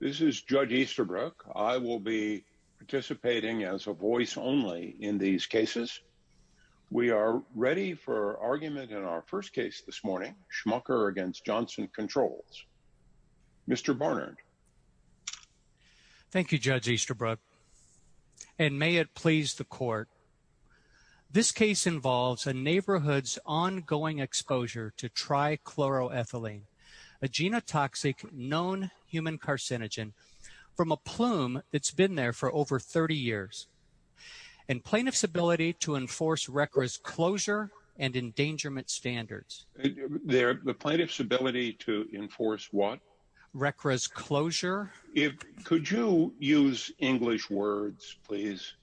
This is Judge Easterbrook. I will be participating as a voice only in these cases. We are ready for argument in our first case this morning, Schmucker v. Johnson Controls. Mr. Barnard. Thank you, Judge Easterbrook, and may it please the Court. This case involves a neighborhood's ongoing exposure to trichloroethylene, a genotoxic known human carcinogen from a plume that's been there for over 30 years, and plaintiff's ability to enforce RCRA's closure and endangerment standards. The plaintiff's ability to enforce what? RCRA's closure. Could you use English words, please?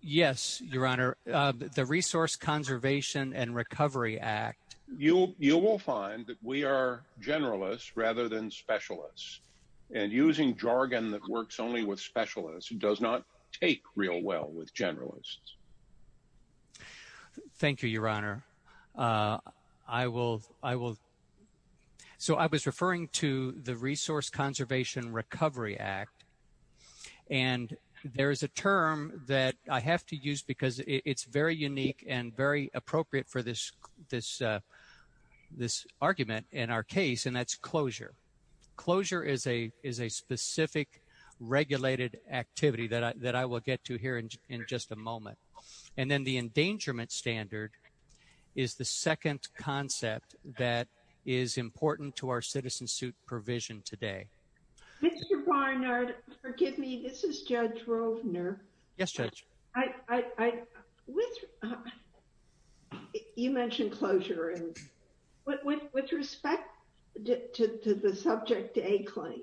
Yes, Your Honor. The Resource Conservation and Recovery Act. You will find that we are generalists rather than specialists, and using jargon that works only with specialists does not take real well with generalists. Thank you, Your Honor. I was referring to the Resource Conservation and Recovery Act, and there is a term that I have to use because it's very unique and very appropriate for this argument in our case, and that's closure. Closure is a specific regulated activity that I will get to here in just a moment. And then the endangerment standard is the second concept that is important to our citizen suit provision today. Mr. Barnard, forgive me, this is Judge Rovner. Yes, Judge. I, with, you mentioned closure, and with respect to the Subject A claim,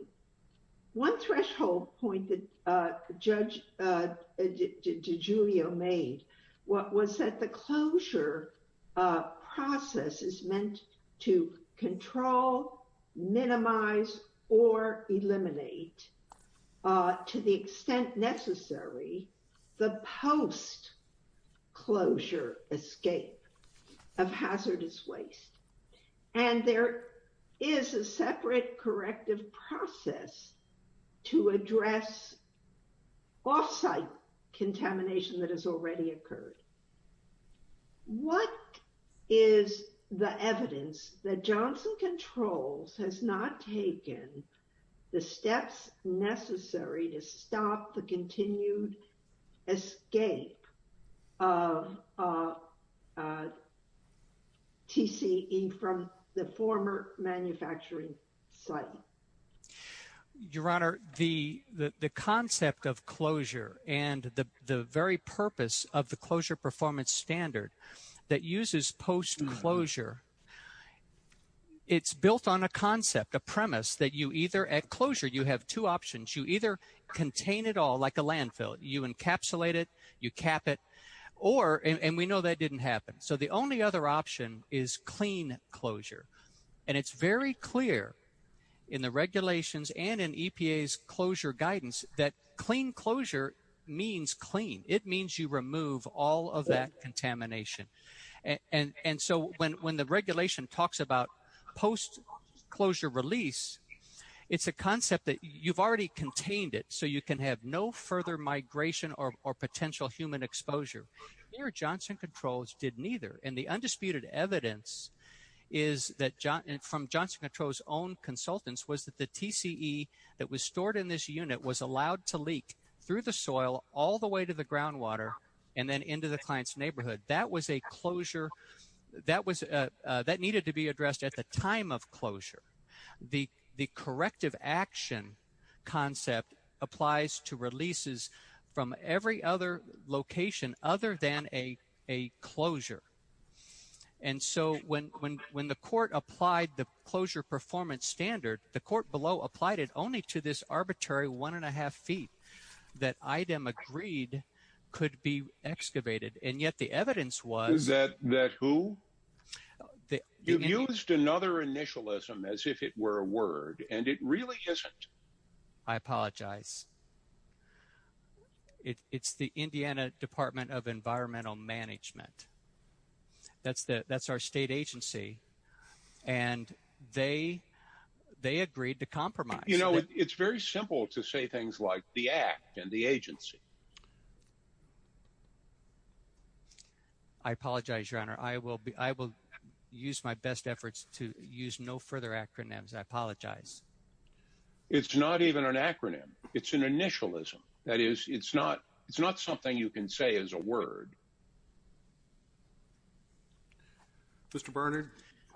one threshold point that Judge DiGiulio made was that the closure process is meant to control, minimize, or eliminate, to the extent necessary, the post-closure escape of hazardous waste. And there is a separate corrective process to address offsite contamination that has already has not taken the steps necessary to stop the continued escape of TCE from the former manufacturing site. Your Honor, the concept of closure and the very purpose of the closure performance standard that uses post-closure, it's built on a concept, a premise, that you either, at closure, you have two options. You either contain it all like a landfill, you encapsulate it, you cap it, or, and we know that didn't happen, so the only other option is clean closure. And it's very clear in the regulations and in EPA's closure guidance that clean closure means clean. It means you remove all of that contamination. And so when the regulation talks about post-closure release, it's a concept that you've already contained it, so you can have no further migration or potential human exposure. Here, Johnson Controls did neither. And the undisputed evidence is that, from Johnson Controls' own consultants, was that the TCE that was stored in this unit was allowed to leak through the soil all the way to the groundwater and then into the client's neighborhood. That was a closure that needed to be addressed at the time of closure. The corrective action concept applies to releases from every other location other than a closure. And so when the court applied the closure performance standard, the court below applied it only to this arbitrary one and a half feet that IDEM agreed could be excavated. And yet the evidence was... Is that who? You've used another initialism as if it were a word, and it really isn't. I apologize. It's the Indiana Department of Environmental Management. That's our state agency. And they agreed to compromise. It's very simple to say things like the act and the agency. I apologize, Your Honor. I will use my best efforts to use no further acronyms. I apologize. It's not even an acronym. It's an initialism. That is, it's not something you can say as a word. Mr. Barnard,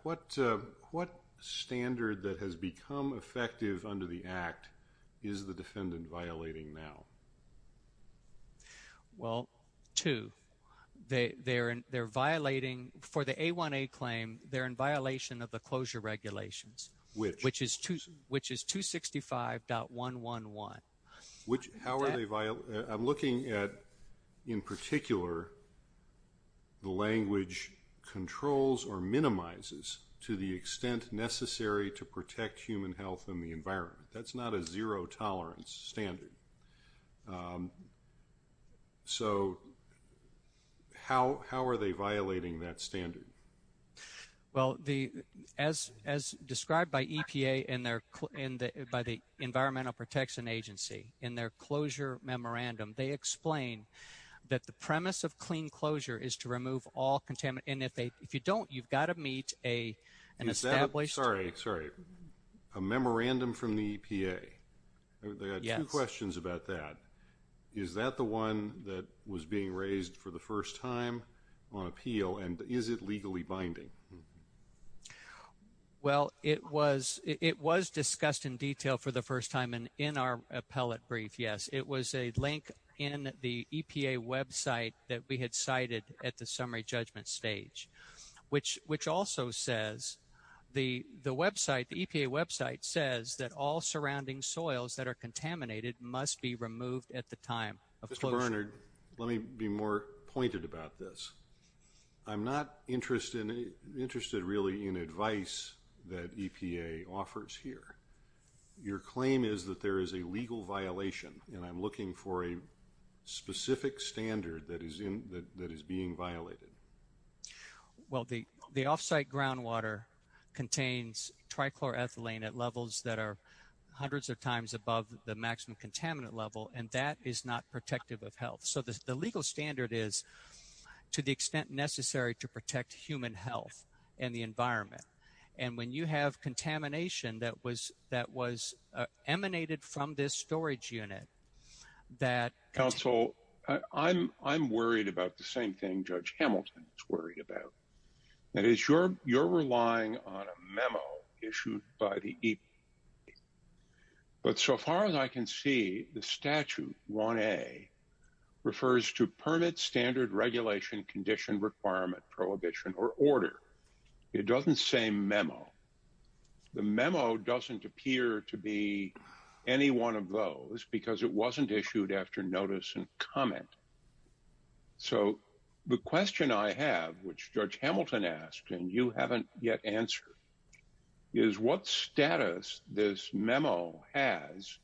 what standard that has become effective under the act is the defendant violating now? Well, two. They're violating, for the A1A claim, they're in violation of the closure regulations. Which? Which is 265.111. How are they violating? I'm looking at, in particular, the language controls or minimizes to the extent necessary to protect human health and the environment. That's not a zero tolerance standard. So how are they violating that standard? Well, as described by EPA and by the Environmental Protection Agency, in their closure memorandum, they explain that the premise of clean closure is to remove all contaminants. And if you don't, you've got to meet an established... Sorry, sorry. A memorandum from the EPA? Yes. I've got two questions about that. Is that the one that was being raised for the first time on appeal? And is it legally binding? Well, it was discussed in detail for the first time in our appellate brief, yes. It was a link in the EPA website that we had cited at the summary judgment stage. Which also says, the EPA website says that all surrounding soils that are contaminated must be removed at the time of closure. Mr. Barnard, let me be more pointed about this. I'm not interested really in advice that EPA offers here. Your claim is that there is a legal violation, and I'm looking for a specific standard that is being violated. Well, the off-site groundwater contains trichloroethylene at levels that are hundreds of times above the maximum contaminant level, and that is not protective of health. So the legal standard is to the extent necessary to protect human health and the environment. And when you have contamination that was emanated from this storage unit, that... Counsel, I'm worried about the same thing Judge Hamilton is worried about. That is, you're relying on a memo issued by the EPA. But so far as I can see, the statute, 1A, refers to permit, standard, regulation, condition, requirement, prohibition, or order. It doesn't say memo. The memo doesn't appear to be any one of those because it wasn't issued after notice and comment. So the question I have, which Judge Hamilton asked and you haven't yet answered, is what status this memo has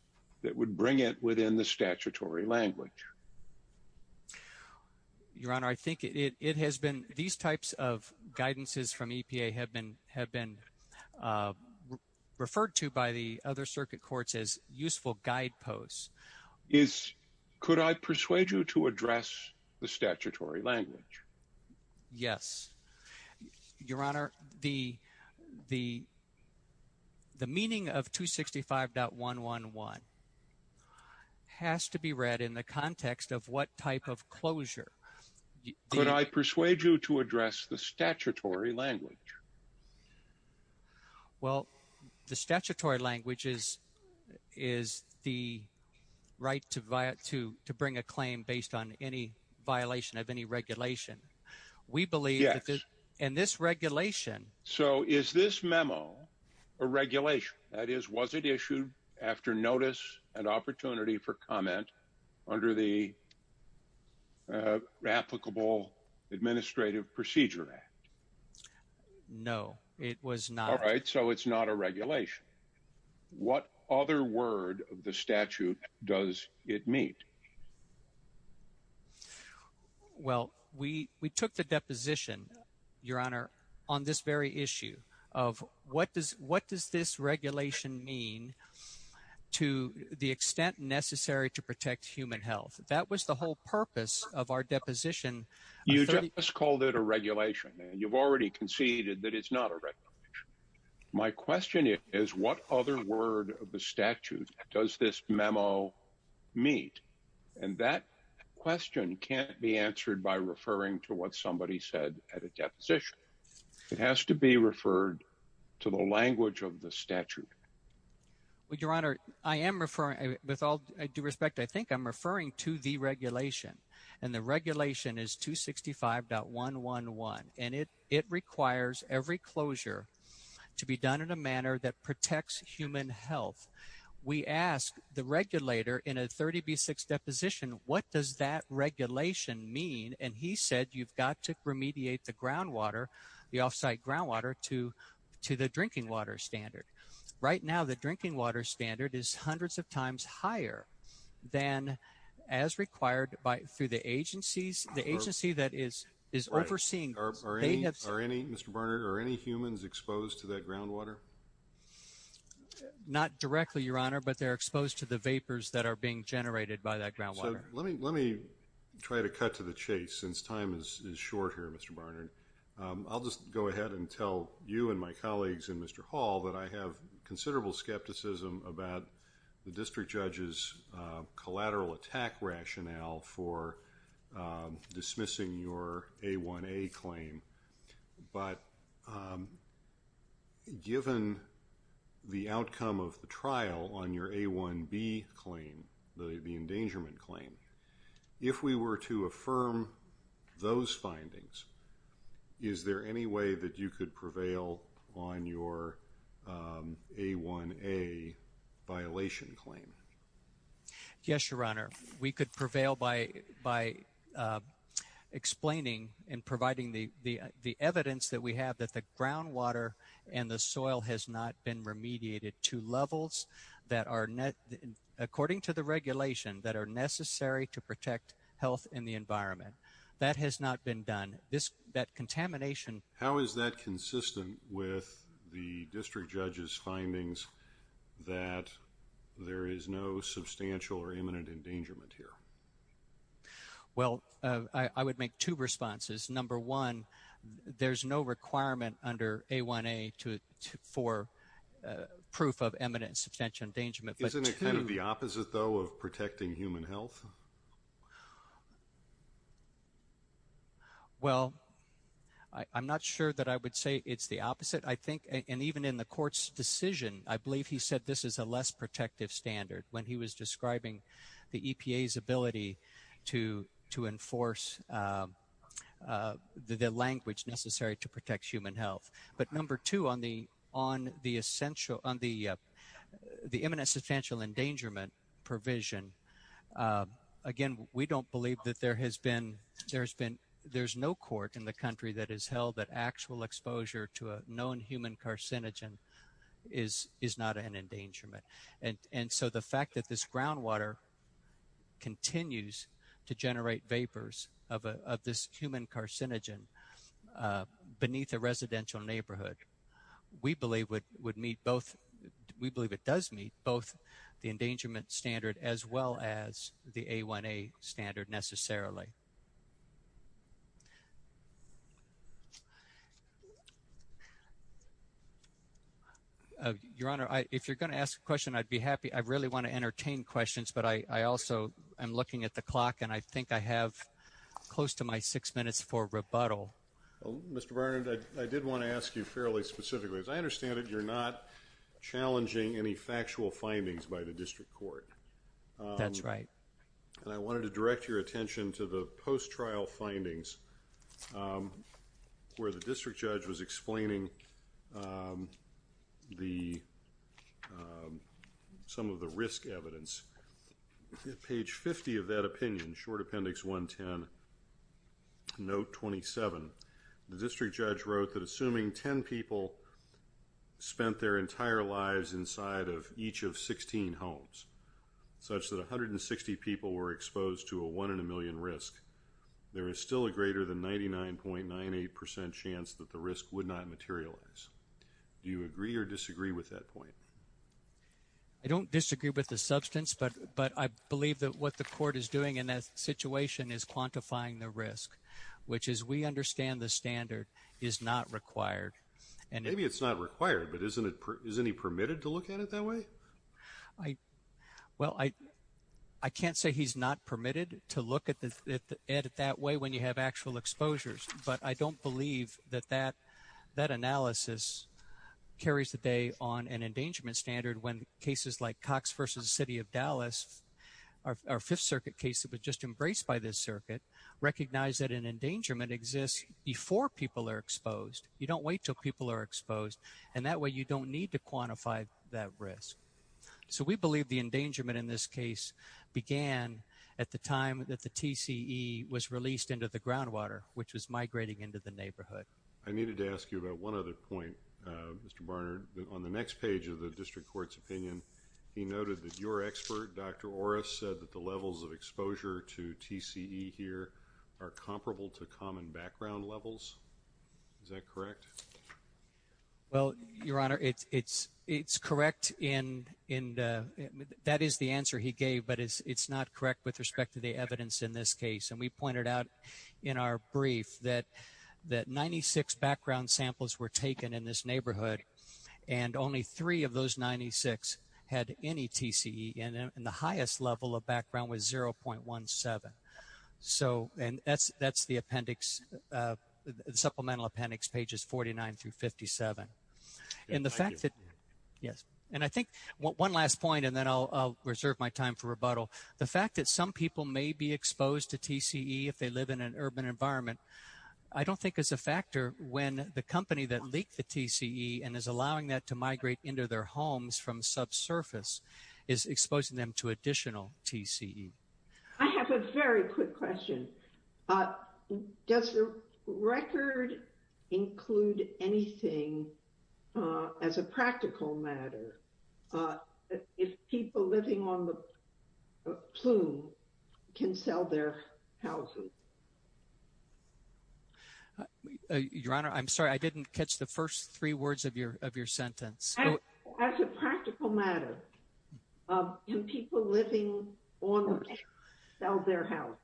that would bring it within the statutory language? Your Honor, I think it has been... These types of guidances from EPA have been referred to by the other circuit courts as useful guideposts. Is... Could I persuade you to address the statutory language? Yes. Your Honor, the meaning of 265.111 has to be read in the context of what type of closure. Could I persuade you to address the statutory language? Well, the statutory language is the right to bring a claim based on any violation of any regulation. We believe that this... Yes. And this regulation... So is this memo a regulation? That is, was it issued after notice and opportunity for comment under the Applicable Administrative Procedure Act? No, it was not. All right. So it's not a regulation. What other word of the statute does it meet? Well, we took the deposition, Your Honor, on this very issue of what does this regulation mean to the extent necessary to protect human health. That was the whole purpose of our deposition. You just called it a regulation, and you've already conceded that it's not a regulation. My question is, what other word of the statute does this memo meet? And that question can't be answered by referring to what somebody said at a deposition. It has to be referred to the language of the statute. Well, Your Honor, I am referring... With all due respect, I think I'm referring to the regulation. And the regulation is 265.111. And it requires every closure to be done in a manner that protects human health. We asked the regulator in a 30B6 deposition, what does that regulation mean? And he said, you've got to remediate the groundwater, the off-site groundwater, to the drinking water standard. Right now, the drinking water standard is hundreds of times higher than as required through the agencies, the agency that is overseeing. Are any, Mr. Barnard, are any humans exposed to that groundwater? Not directly, Your Honor, but they're exposed to the vapors that are being generated by that groundwater. So let me try to cut to the chase since time is short here, Mr. Barnard. I'll just go ahead and tell you and my colleagues and Mr. Hall that I have considerable skepticism about the district judge's collateral attack rationale for dismissing your A1A claim. But given the outcome of the trial on your A1B claim, the endangerment claim, if we were to affirm those findings, is there any way that you could prevail on your A1A violation claim? Yes, Your Honor. We could prevail by explaining and providing the evidence that we have that the groundwater and the soil has not been remediated to levels that are, according to the regulation, that are necessary to protect health and the environment. That has not been done. How is that consistent with the district judge's findings that there is no substantial or imminent endangerment here? Well, I would make two responses. Number one, there's no requirement under A1A for proof of imminent and substantial endangerment. Isn't it kind of the opposite, though, of protecting human health? Well, I'm not sure that I would say it's the opposite. I think and even in the court's decision, I believe he said this is a less protective standard when he was describing the EPA's ability to enforce the language necessary to protect human health. But number two, on the imminent and substantial endangerment provision, again, we don't believe that there has been there's been there's no court in the country that has held that actual exposure to a known human carcinogen is not an endangerment. And so the fact that this groundwater continues to generate vapors of this human carcinogen beneath a residential neighborhood, we believe would meet both. We believe it does meet both the endangerment standard as well as the A1A standard necessarily. Your Honor, if you're going to ask a question, I'd be happy. I really want to entertain questions, but I also am looking at the clock and I think I have close to my six minutes for rebuttal. Mr. Barnett, I did want to ask you fairly specifically, as I understand it, you're not challenging any factual findings by the district court. That's right. And I wanted to direct your attention to the post-trial findings where the district judge was page 50 of that opinion, short appendix 110, note 27. The district judge wrote that assuming 10 people spent their entire lives inside of each of 16 homes, such that 160 people were exposed to a one in a million risk, there is still a greater than 99.98 percent chance that the risk would not materialize. Do you agree or disagree with that point? I don't disagree with the substance, but I believe that what the court is doing in that situation is quantifying the risk, which as we understand the standard, is not required. Maybe it's not required, but isn't he permitted to look at it that way? Well, I can't say he's not permitted to look at it that way when you have actual exposures, but I don't believe that that analysis carries the day on an endangerment standard when cases like Cox v. City of Dallas, our Fifth Circuit case that was just embraced by this circuit, recognize that an endangerment exists before people are exposed. You don't wait until people are exposed, and that way you don't need to quantify that risk. So we believe the endangerment in this case began at the time that the TCE was released into the neighborhood. I needed to ask you about one other point, Mr. Barnard. On the next page of the District Court's opinion, he noted that your expert, Dr. Orris, said that the levels of exposure to TCE here are comparable to common background levels. Is that correct? Well, Your Honor, it's correct. That is the answer he gave, but it's not correct with respect to the evidence in this case. We pointed out in our brief that 96 background samples were taken in this neighborhood, and only three of those 96 had any TCE, and the highest level of background was 0.17. So that's the appendix, the supplemental appendix, pages 49 through 57. And the fact that, yes, and I think one last point, and then I'll reserve my time for rebuttal. The fact that some people may be exposed to TCE if they live in an urban environment, I don't think is a factor when the company that leaked the TCE and is allowing that to migrate into their homes from subsurface is exposing them to additional TCE. I have a very quick question. Does the record include anything as a practical matter? If people living on the plume can sell their houses? Your Honor, I'm sorry, I didn't catch the first three words of your sentence. As a practical matter, can people living on the plume sell their house?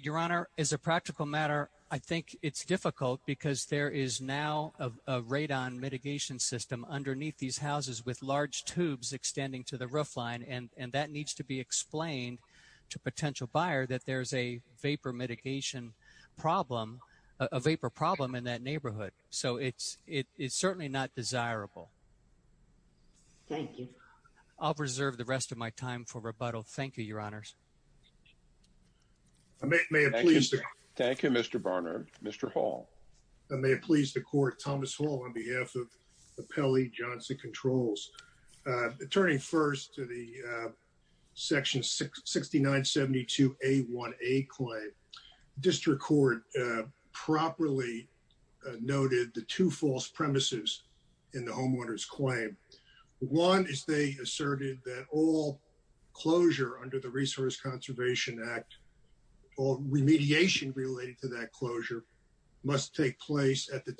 Your Honor, as a practical matter, I think it's difficult because there is now a radon mitigation system underneath these houses with large tubes extending to the roof line, and that needs to be explained to a potential buyer that there's a vapor mitigation problem, a vapor problem in that neighborhood. So it's certainly not desirable. Thank you. I'll reserve the rest of my time for rebuttal. Thank you, Your Honors. Thank you, Mr. Barnard. Mr. Hall. I may please the court, Thomas Hall, on behalf of the Pelley Johnson Controls. Turning first to the section 6972A1A claim, district court properly noted the two false premises in the homeowner's claim. One is they asserted that all closure under the Resource Take Place at the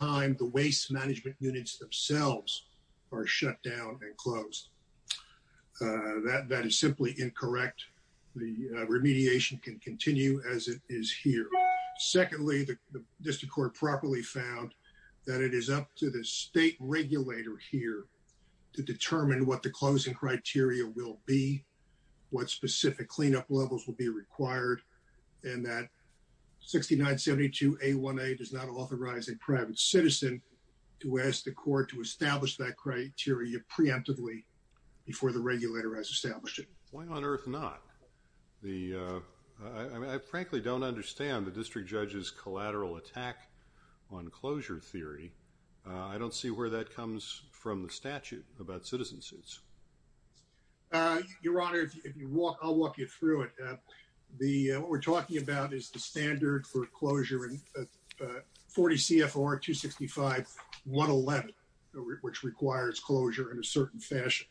time the waste management units themselves are shut down and closed. That is simply incorrect. The remediation can continue as it is here. Secondly, the district court properly found that it is up to the state regulator here to determine what the closing does not authorize a private citizen to ask the court to establish that criteria preemptively before the regulator has established it. Why on earth not? I frankly don't understand the district judge's collateral attack on closure theory. I don't see where that comes from the statute about citizen suits. Your Honor, I'll walk you through it. What we're talking about is the standard for closure in 40 CFR 265.111, which requires closure in a certain fashion.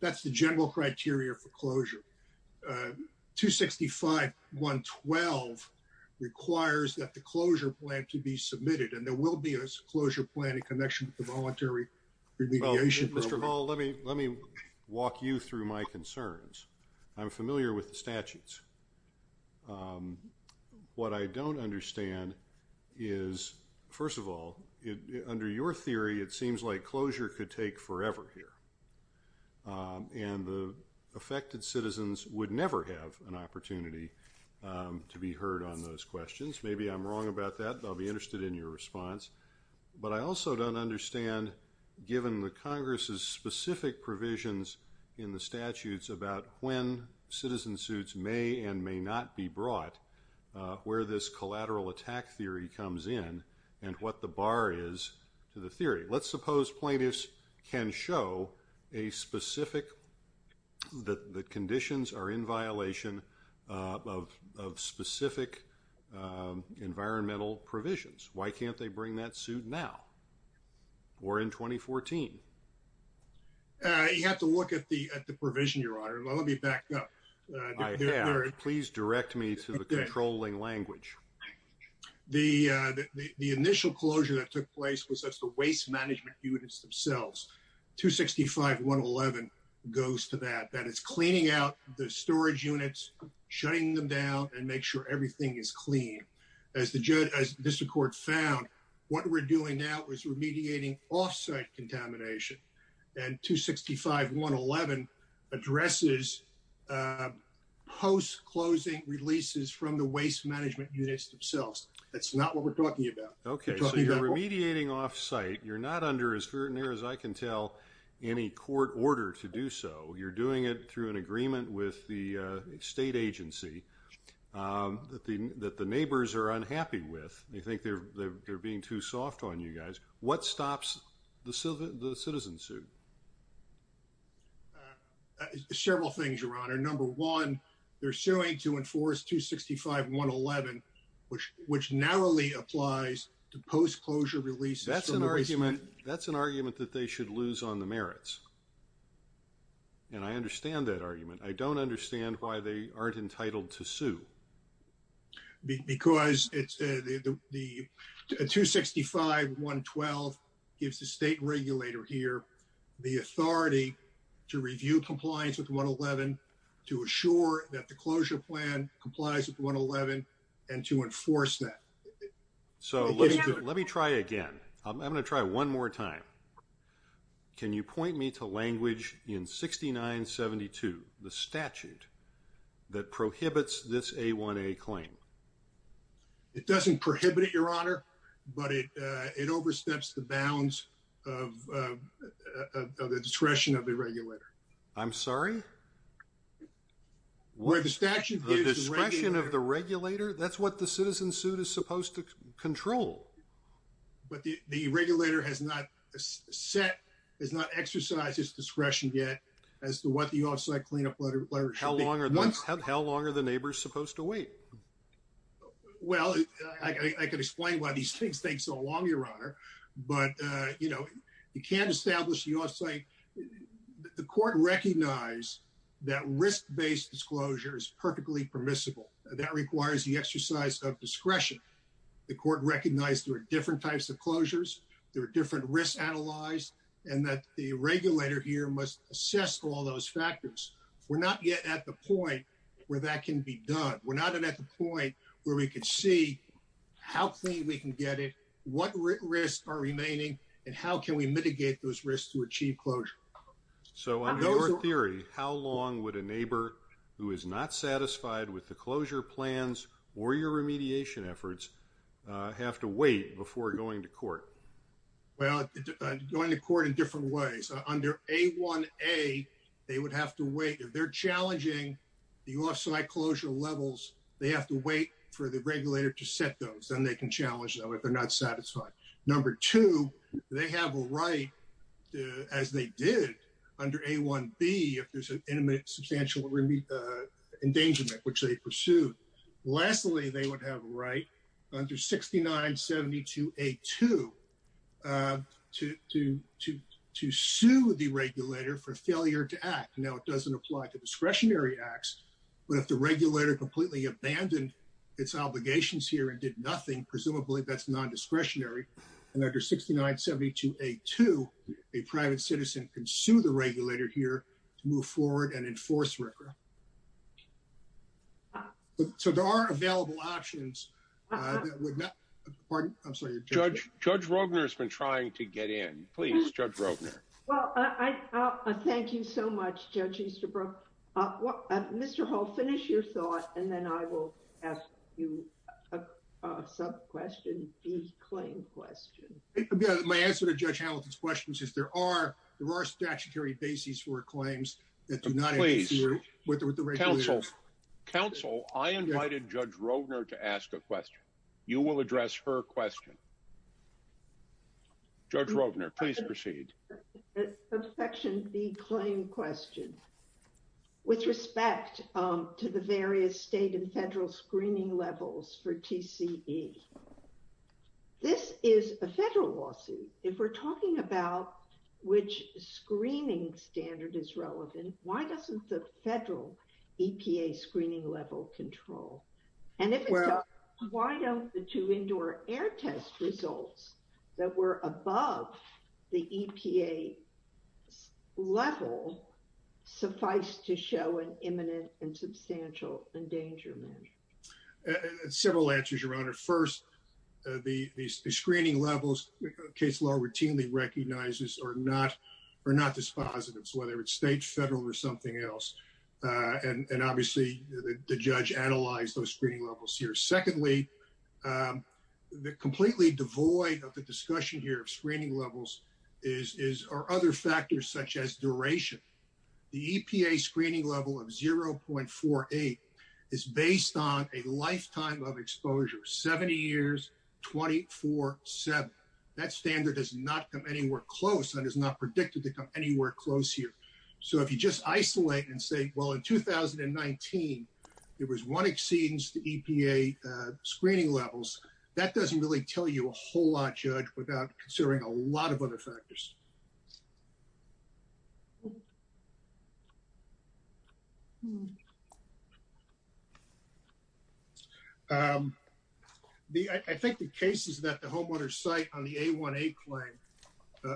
That's the general criteria for closure. 265.112 requires that the closure plan to be submitted and there will be a closure plan in connection with the voluntary remediation. Mr. Hall, let me walk you through my concerns. I'm familiar with the statutes. What I don't understand is, first of all, under your theory, it seems like closure could take forever here. And the affected citizens would never have an opportunity to be heard on those questions. Maybe I'm wrong about that. I'll be interested in your response. But I also don't understand, given the Congress's specific provisions in the statutes about when citizen suits may and may not be brought, where this collateral attack theory comes in and what the bar is to the theory. Let's suppose plaintiffs can show a specific that the conditions are in violation of specific environmental provisions. Why can't they bring that suit now? Or in 2014? You have to look at the provision, Your Honor. Let me back up. Please direct me to the controlling language. The initial closure that took place was the waste management units themselves. 265.111 goes to that. That is cleaning out the storage units, shutting them down, and make sure everything is clean. As the district court found, what we're doing now is remediating off-site contamination. And 265.111 addresses post-closing releases from the waste management units themselves. That's not what we're talking about. Okay. So you're remediating off-site. You're not under, as near as I can tell, any court order to do so. You're doing it through an agreement with the state agency that the neighbors are unhappy with. They think they're being too soft on you guys. What stops the citizen suit? Several things, Your Honor. Number one, they're suing to enforce 265.111, which narrowly applies to post-closure releases. That's an argument that they should lose on the merits. And I understand that argument. I don't understand why they aren't entitled to sue. Because the 265.112 gives the state regulator here the authority to review compliance with 111, to assure that the closure plan complies with 111, and to enforce that. So let me try again. I'm going to try one more time. Can you point me to language in 6972, the statute, that prohibits this A1A claim? It doesn't prohibit it, Your Honor, but it oversteps the bounds of the discretion of the regulator. I'm sorry? Where the statute gives the regulator— The discretion of the regulator, that's what the citizen suit is supposed to control. But the regulator has not set, has not exercised its discretion yet as to what the off-site cleanup letter should be. How long are the neighbors supposed to wait? Well, I could explain why these things take so long, Your Honor. But, you know, you can't establish the off-site— The court recognized that risk-based disclosure is perfectly permissible. That requires the exercise of discretion. The court recognized there were different types of closures, there were different risks analyzed, and that the regulator here must assess all those factors. We're not yet at the point where that can be done. We're not at the point where we could see how clean we can get it, what risks are remaining, and how can we mitigate those risks to achieve closure. So, under your theory, how long would a neighbor who is not satisfied with the closure plans or your remediation efforts have to wait before going to court? Well, going to court in different ways. Under A1A, they would have to wait. If they're challenging the off-site closure levels, they have to wait for the regulator to set those. Then they can challenge them if they're not satisfied. Number two, they have a right as they did under A1B, if there's an intimate substantial endangerment, which they pursued. Lastly, they would have a right under 6972A2 to sue the regulator for failure to act. Now, it doesn't apply to discretionary acts, but if the regulator completely abandoned its obligations here and did nothing, presumably that's nondiscretionary. And under 6972A2, a private citizen can sue the regulator here to move forward and enforce RCRA. So, there are available options. Judge Rogner has been trying to get in. Please, Judge Rogner. Well, thank you so much, Judge Easterbrook. Mr. Hall, finish your thought, and then I will ask you a sub-question, a claim question. My answer to Judge Hamilton's question is there are statutory bases for claims that do not have to do with the regulator. Counsel, I invited Judge Rogner to ask a question. You will address her question. Judge Rogner, please proceed. A section B claim question with respect to the various state and federal screening levels for EPA screening. If we're talking about which screening standard is relevant, why doesn't the federal EPA screening level control? And if it does, why don't the two indoor air test results that were above the EPA level suffice to show an imminent and substantial endangerment? There are several answers, Your Honor. First, the screening levels, case law routinely recognizes, are not dispositive, whether it's state, federal, or something else. And obviously, the judge analyzed those screening levels here. Secondly, completely devoid of the discussion here of screening levels or other factors such as duration, the EPA screening level of 0.48 is based on a lifetime of exposure, 70 years, 24-7. That standard does not come anywhere close and is not predicted to come anywhere close here. So if you just isolate and say, well, in 2019, there was one exceedance to EPA screening levels, that doesn't really tell you a whole lot, Judge, without considering a lot of other factors. I think the cases that the homeowners cite on the A1A claim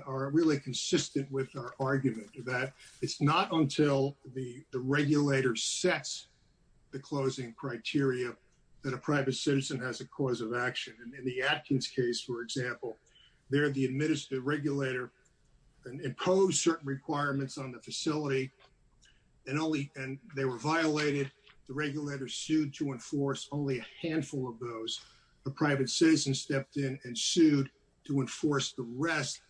are really consistent with our argument that it's not until the regulator sets the closing criteria that a private citizen has a cause of action. In the Atkins case, for example, there, the administrative regulator imposed certain requirements on the facility, and they were violated. The regulator sued to enforce only a handful of those. A private citizen stepped in and sued to enforce the rest,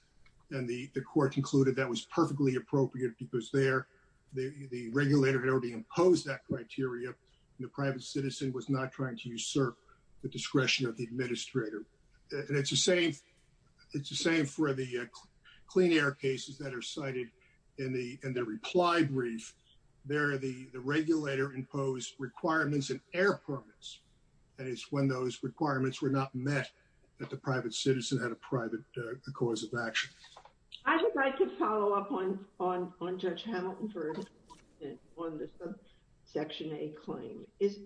and the court concluded that was perfectly appropriate because there, the regulator had imposed that criteria, and the private citizen was not trying to usurp the discretion of the administrator. And it's the same for the clean air cases that are cited in the reply brief. There, the regulator imposed requirements in air permits, and it's when those requirements were not met that the private citizen had a private cause of action. I would like to follow up on Judge Hamilton for a moment on the subsection A claim. Is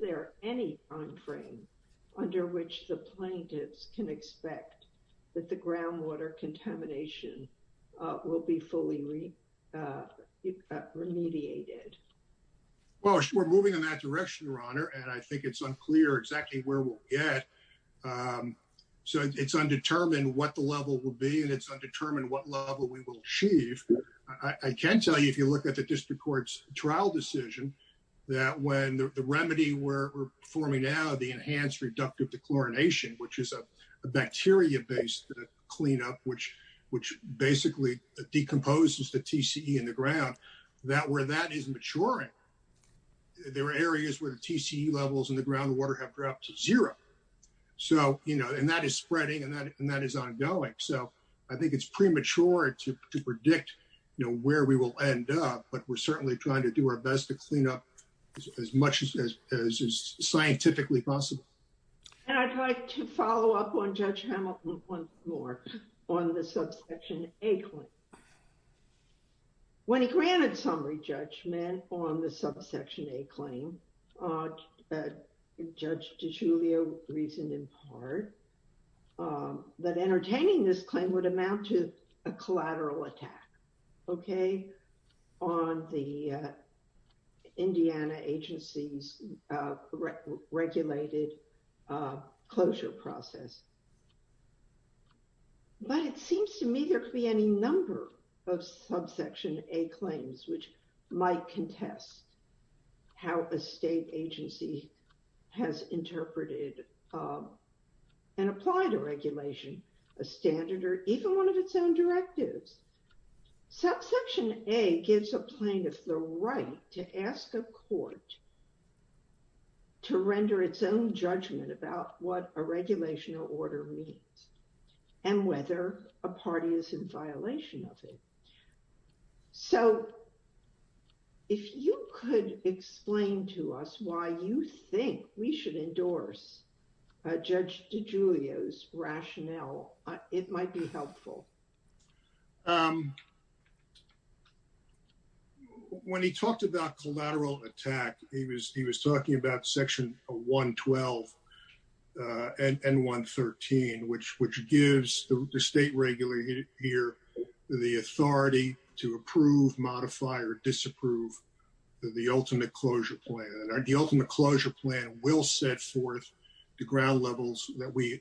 there any time frame under which the plaintiffs can expect that the groundwater contamination will be fully remediated? Well, we're moving in that direction, Your Honor, and I think it's unclear exactly where we'll get. So it's undetermined what the level will be, and it's undetermined what level we will achieve. I can tell you, if you look at the district court's trial decision, that when the remedy we're performing now, the enhanced reductive dechlorination, which is a bacteria-based cleanup, which basically decomposes the TCE in the ground, that where that is maturing, there are areas where the TCE levels in the groundwater have dropped to zero. So, you know, and that is spreading and that is ongoing. So I think it's premature to predict, you know, where we will end up, but we're certainly trying to do our best to clean up as much as scientifically possible. And I'd like to follow up on Judge Hamilton once more on the subsection A claim. When he granted summary judgment on the subsection A claim, Judge DiGiulio reasoned in part that entertaining this claim would amount to a collateral attack, okay, on the Indiana agency's regulated closure process. But it seems to me there could be any number of subsection A claims which might contest how a state agency has interpreted and applied a regulation, a standard, or even one of its own directives. Subsection A gives a plaintiff the right to ask a court to render its own judgment about what a regulation or order means and whether a party is in violation of it. So if you could explain to us why you think we should endorse Judge DiGiulio's rationale, it might be helpful. When he talked about collateral attack, he was talking about section 112 and 113, which gives the state regulator here the authority to approve, modify, or disapprove the ultimate closure plan. The ultimate closure plan will set forth the ground levels that we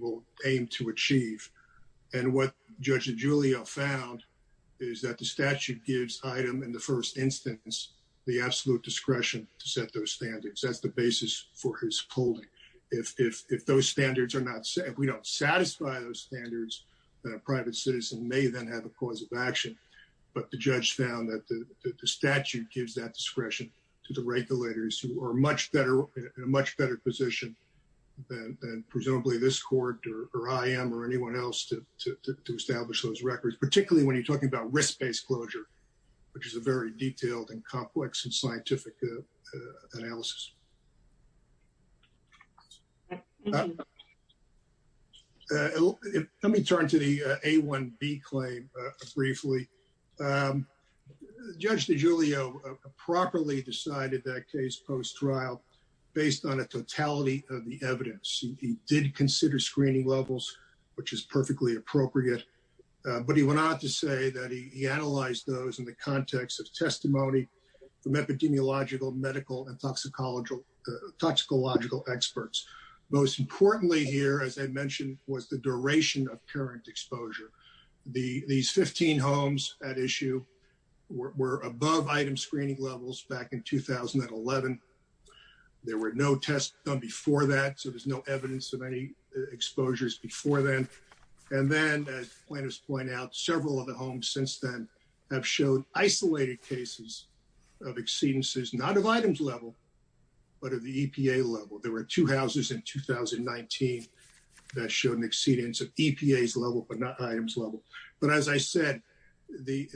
will aim to achieve. And what Judge DiGiulio found is that the statute gives item in the first instance the absolute discretion to set those standards. That's the basis for his holding. If those standards are not set, if we don't satisfy those standards, then a private citizen may then have a cause of action. But the judge found that the statute gives that discretion to the regulators who are in a much better position than presumably this court or I am or anyone else to establish those records, particularly when you're talking about risk-based closure, which is a very detailed and complex and scientific analysis. Let me turn to the A1B claim briefly. Judge DiGiulio properly decided that case post-trial based on a totality of the evidence. He did consider screening levels, which is perfectly appropriate. But he went on to say that he analyzed those in the context of testimony from epidemiological, medical, and toxicology experts. And he found that the evidence was toxicological experts. Most importantly here, as I mentioned, was the duration of current exposure. These 15 homes at issue were above item screening levels back in 2011. There were no tests done before that, so there's no evidence of any exposures before then. And then, as plaintiffs point out, several of the homes since then have shown isolated cases of exceedances, not of items level, but of the EPA level. There were two houses in 2019 that showed an exceedance of EPA's level, but not items level. But as I said, the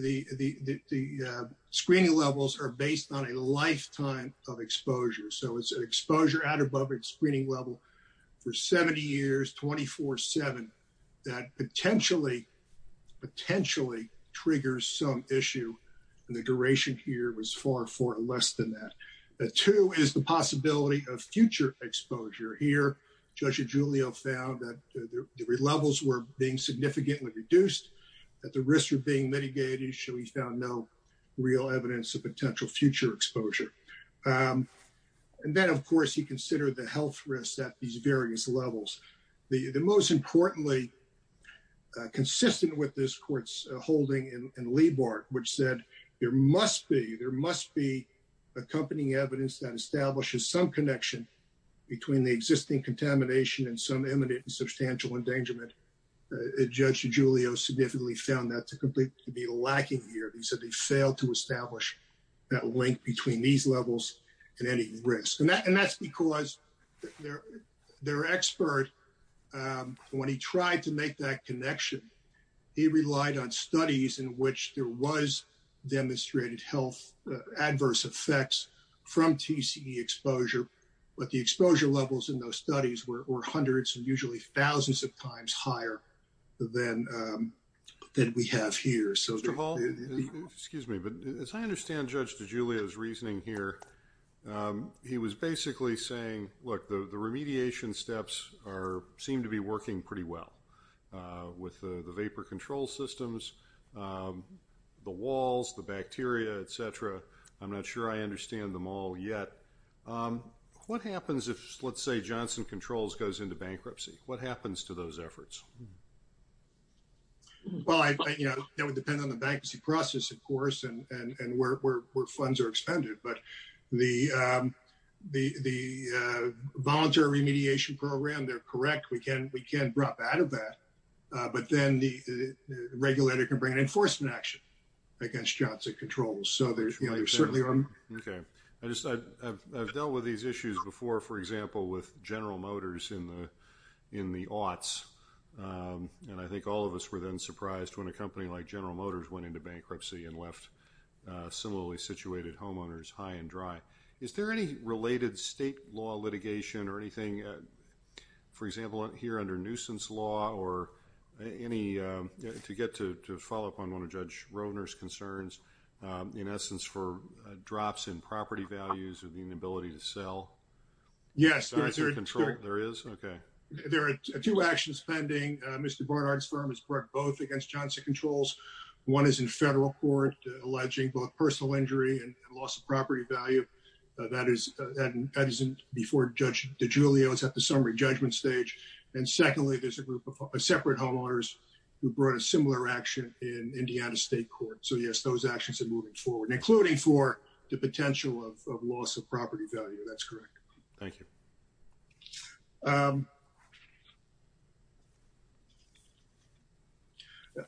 screening levels are based on a lifetime of exposure. So it's an exposure out above its screening level for 70 years, 24-7, that potentially triggers some issue. And the duration here was far, far less than that. The two is the possibility of future exposure. Here, Judge DiGiulio found that the levels were being significantly reduced, that the risks were being mitigated, so he found no real evidence of potential future exposure. And then, of course, he considered the health risks at these various levels. The most importantly, consistent with this court's holding in Liebhardt, which said there must be accompanying evidence that establishes some connection between the existing contamination and some imminent and substantial endangerment, Judge DiGiulio significantly found that to be lacking here. He said they failed to establish that link between these levels and any risk. And that's because their expert, when he tried to make that connection, he relied on studies in which there was demonstrated health adverse effects from TCE exposure, but the exposure levels in those studies were hundreds and usually thousands of times higher than we have here. Mr. Hall, excuse me, but as I understand Judge DiGiulio's reasoning here, he was basically saying, look, the remediation steps seem to be working pretty well with the vapor control systems, the walls, the bacteria, etc. I'm not sure I understand them all yet. What happens if, let's say, Johnson Controls goes into bankruptcy? What happens to those efforts? Well, you know, that would depend on the bankruptcy process, of course, and where funds are expended. But the voluntary remediation program, they're correct. We can drop out of that. But then the regulator can bring an enforcement action against Johnson Controls. So there's certainly... Okay. I just, I've dealt with these issues before, for example, with General Motors in the aughts. And I think all of us were then surprised when a company like General Motors went into bankruptcy and left similarly situated homeowners high and dry. Is there any related state law litigation or anything, for example, here under nuisance law or any, to get to follow up on one of Judge Roedner's concerns, in essence, for drops in property values or the inability to sell? Yes. There is? Okay. There are two actions pending. Mr. Barnard's firm has brought both against Johnson Controls. One is in federal court alleging both personal injury and loss of property value. That is before Judge DiGiulio is at the summary judgment stage. And secondly, there's a group of separate homeowners who brought a similar action in Indiana State Court. So yes, those actions are moving forward, including for the potential of loss of property value. That's correct. Thank you. Thank you.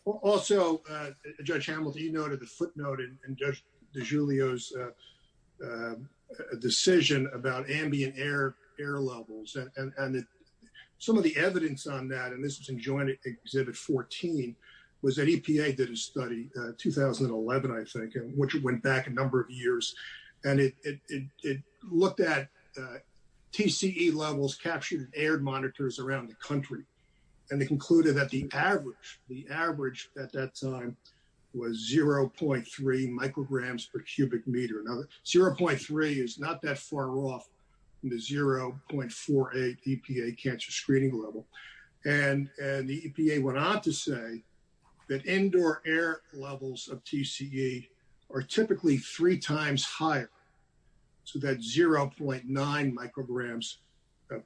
Also, Judge Hamilton, you noted the footnote in Judge DiGiulio's decision about ambient air levels. And some of the evidence on that, and this was in Joint Exhibit 14, was that EPA did a study, 2011, I think, which went back a number of years. And it looked at TCE levels captured in air monitors around the country. And they concluded that the average at that time was 0.3 micrograms per cubic meter. Now, 0.3 is not that far off in the 0.48 EPA cancer screening level. And the EPA went on to say that indoor air levels of TCE are typically three times higher to that 0.9 micrograms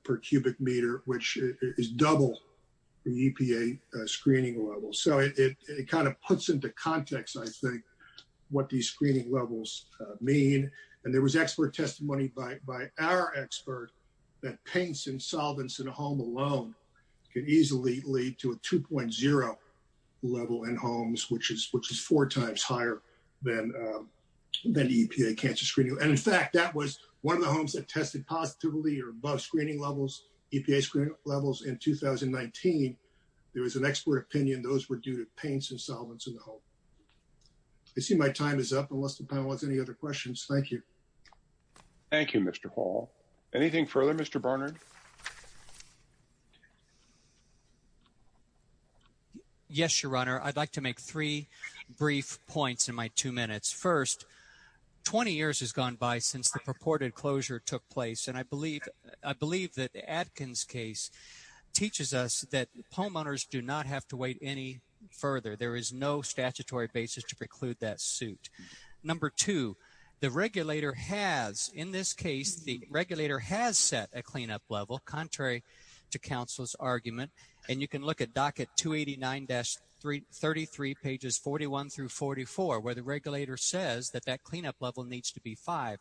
per cubic meter, which is double the EPA screening level. So it kind of puts into context, I think, what these screening levels mean. And there was expert testimony by our expert that paints and solvents in a home alone can easily lead to a 2.0 level in homes, which is four times higher than the EPA cancer screening. And in fact, that was one of the homes that tested positively or above screening levels, EPA screening levels, in 2019. There was an expert opinion those were due to paints and solvents in the home. I see my time is up, unless the panel has any other questions. Thank you. Thank you, Mr. Hall. Anything further, Mr. Barnard? Yes, Your Honor. I'd like to make three brief points in my two minutes. First, 20 years has gone by since the purported closure took place. And I believe that Atkins case teaches us that homeowners do not have to wait any further. There is no statutory basis to preclude that suit. Number two, the regulator has, in this case, the regulator has set a cleanup level, contrary to counsel's argument. And you can look at docket 289-33, pages 41 through 44, where the regulator says that that cleanup level needs to be five.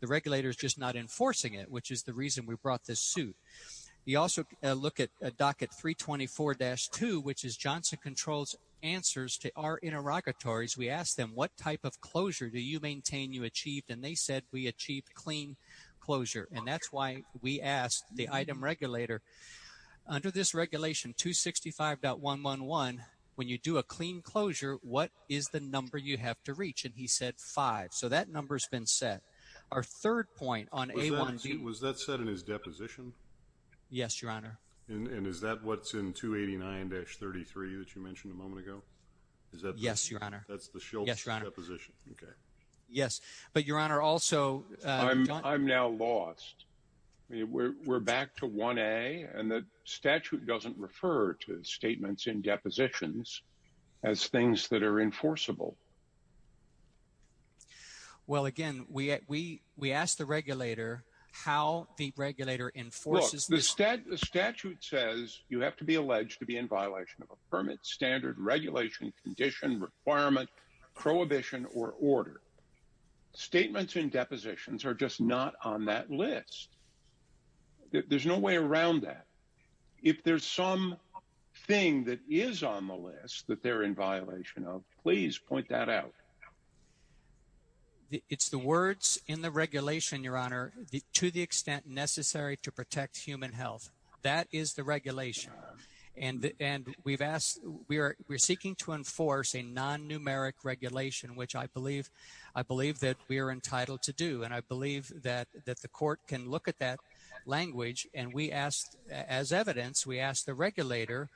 The regulator is just not enforcing it, which is the reason we brought this suit. You also look at docket 324-2, which is Johnson Control's answers to our interrogatories. We asked them, what type of closure do you maintain you achieved? And they said we achieved clean closure. And that's why we asked the item regulator, under this regulation, 265.111, when you do a clean closure, what is the number you have to reach? And he said five. So that number has been set. Our third point on A1B... Was that set in his deposition? Yes, Your Honor. And is that what's in 289-33 that you mentioned a moment ago? Is that... Yes, Your Honor. That's the Schultz deposition. Okay. Yes. But, Your Honor, also... I'm now lost. We're back to 1A, and the statute doesn't refer to statements in depositions as things that are enforceable. Well, again, we asked the regulator how the regulator enforces... Look, the statute says you have to be alleged to be in violation of a permit, standard, regulation, condition, requirement, prohibition, or order. Statements in depositions are just not on that list. There's no way around that. If there's some thing that is on the list that they're in violation of, please point that out. It's the words in the regulation, Your Honor, to the extent necessary to protect human health. That is the regulation. And we've asked... We're seeking to enforce a non-numeric regulation, which I believe that we are entitled to do. And I believe that the court can look at that language. And we asked, as evidence, we asked the regulator,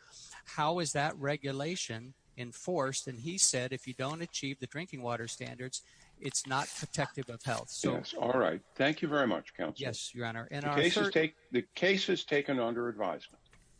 how is that regulation enforced? And he said, if you don't achieve the drinking water standards, it's not protective of health. Yes. All right. Thank you very much, counsel. Yes, Your Honor. The case is taken under advisement.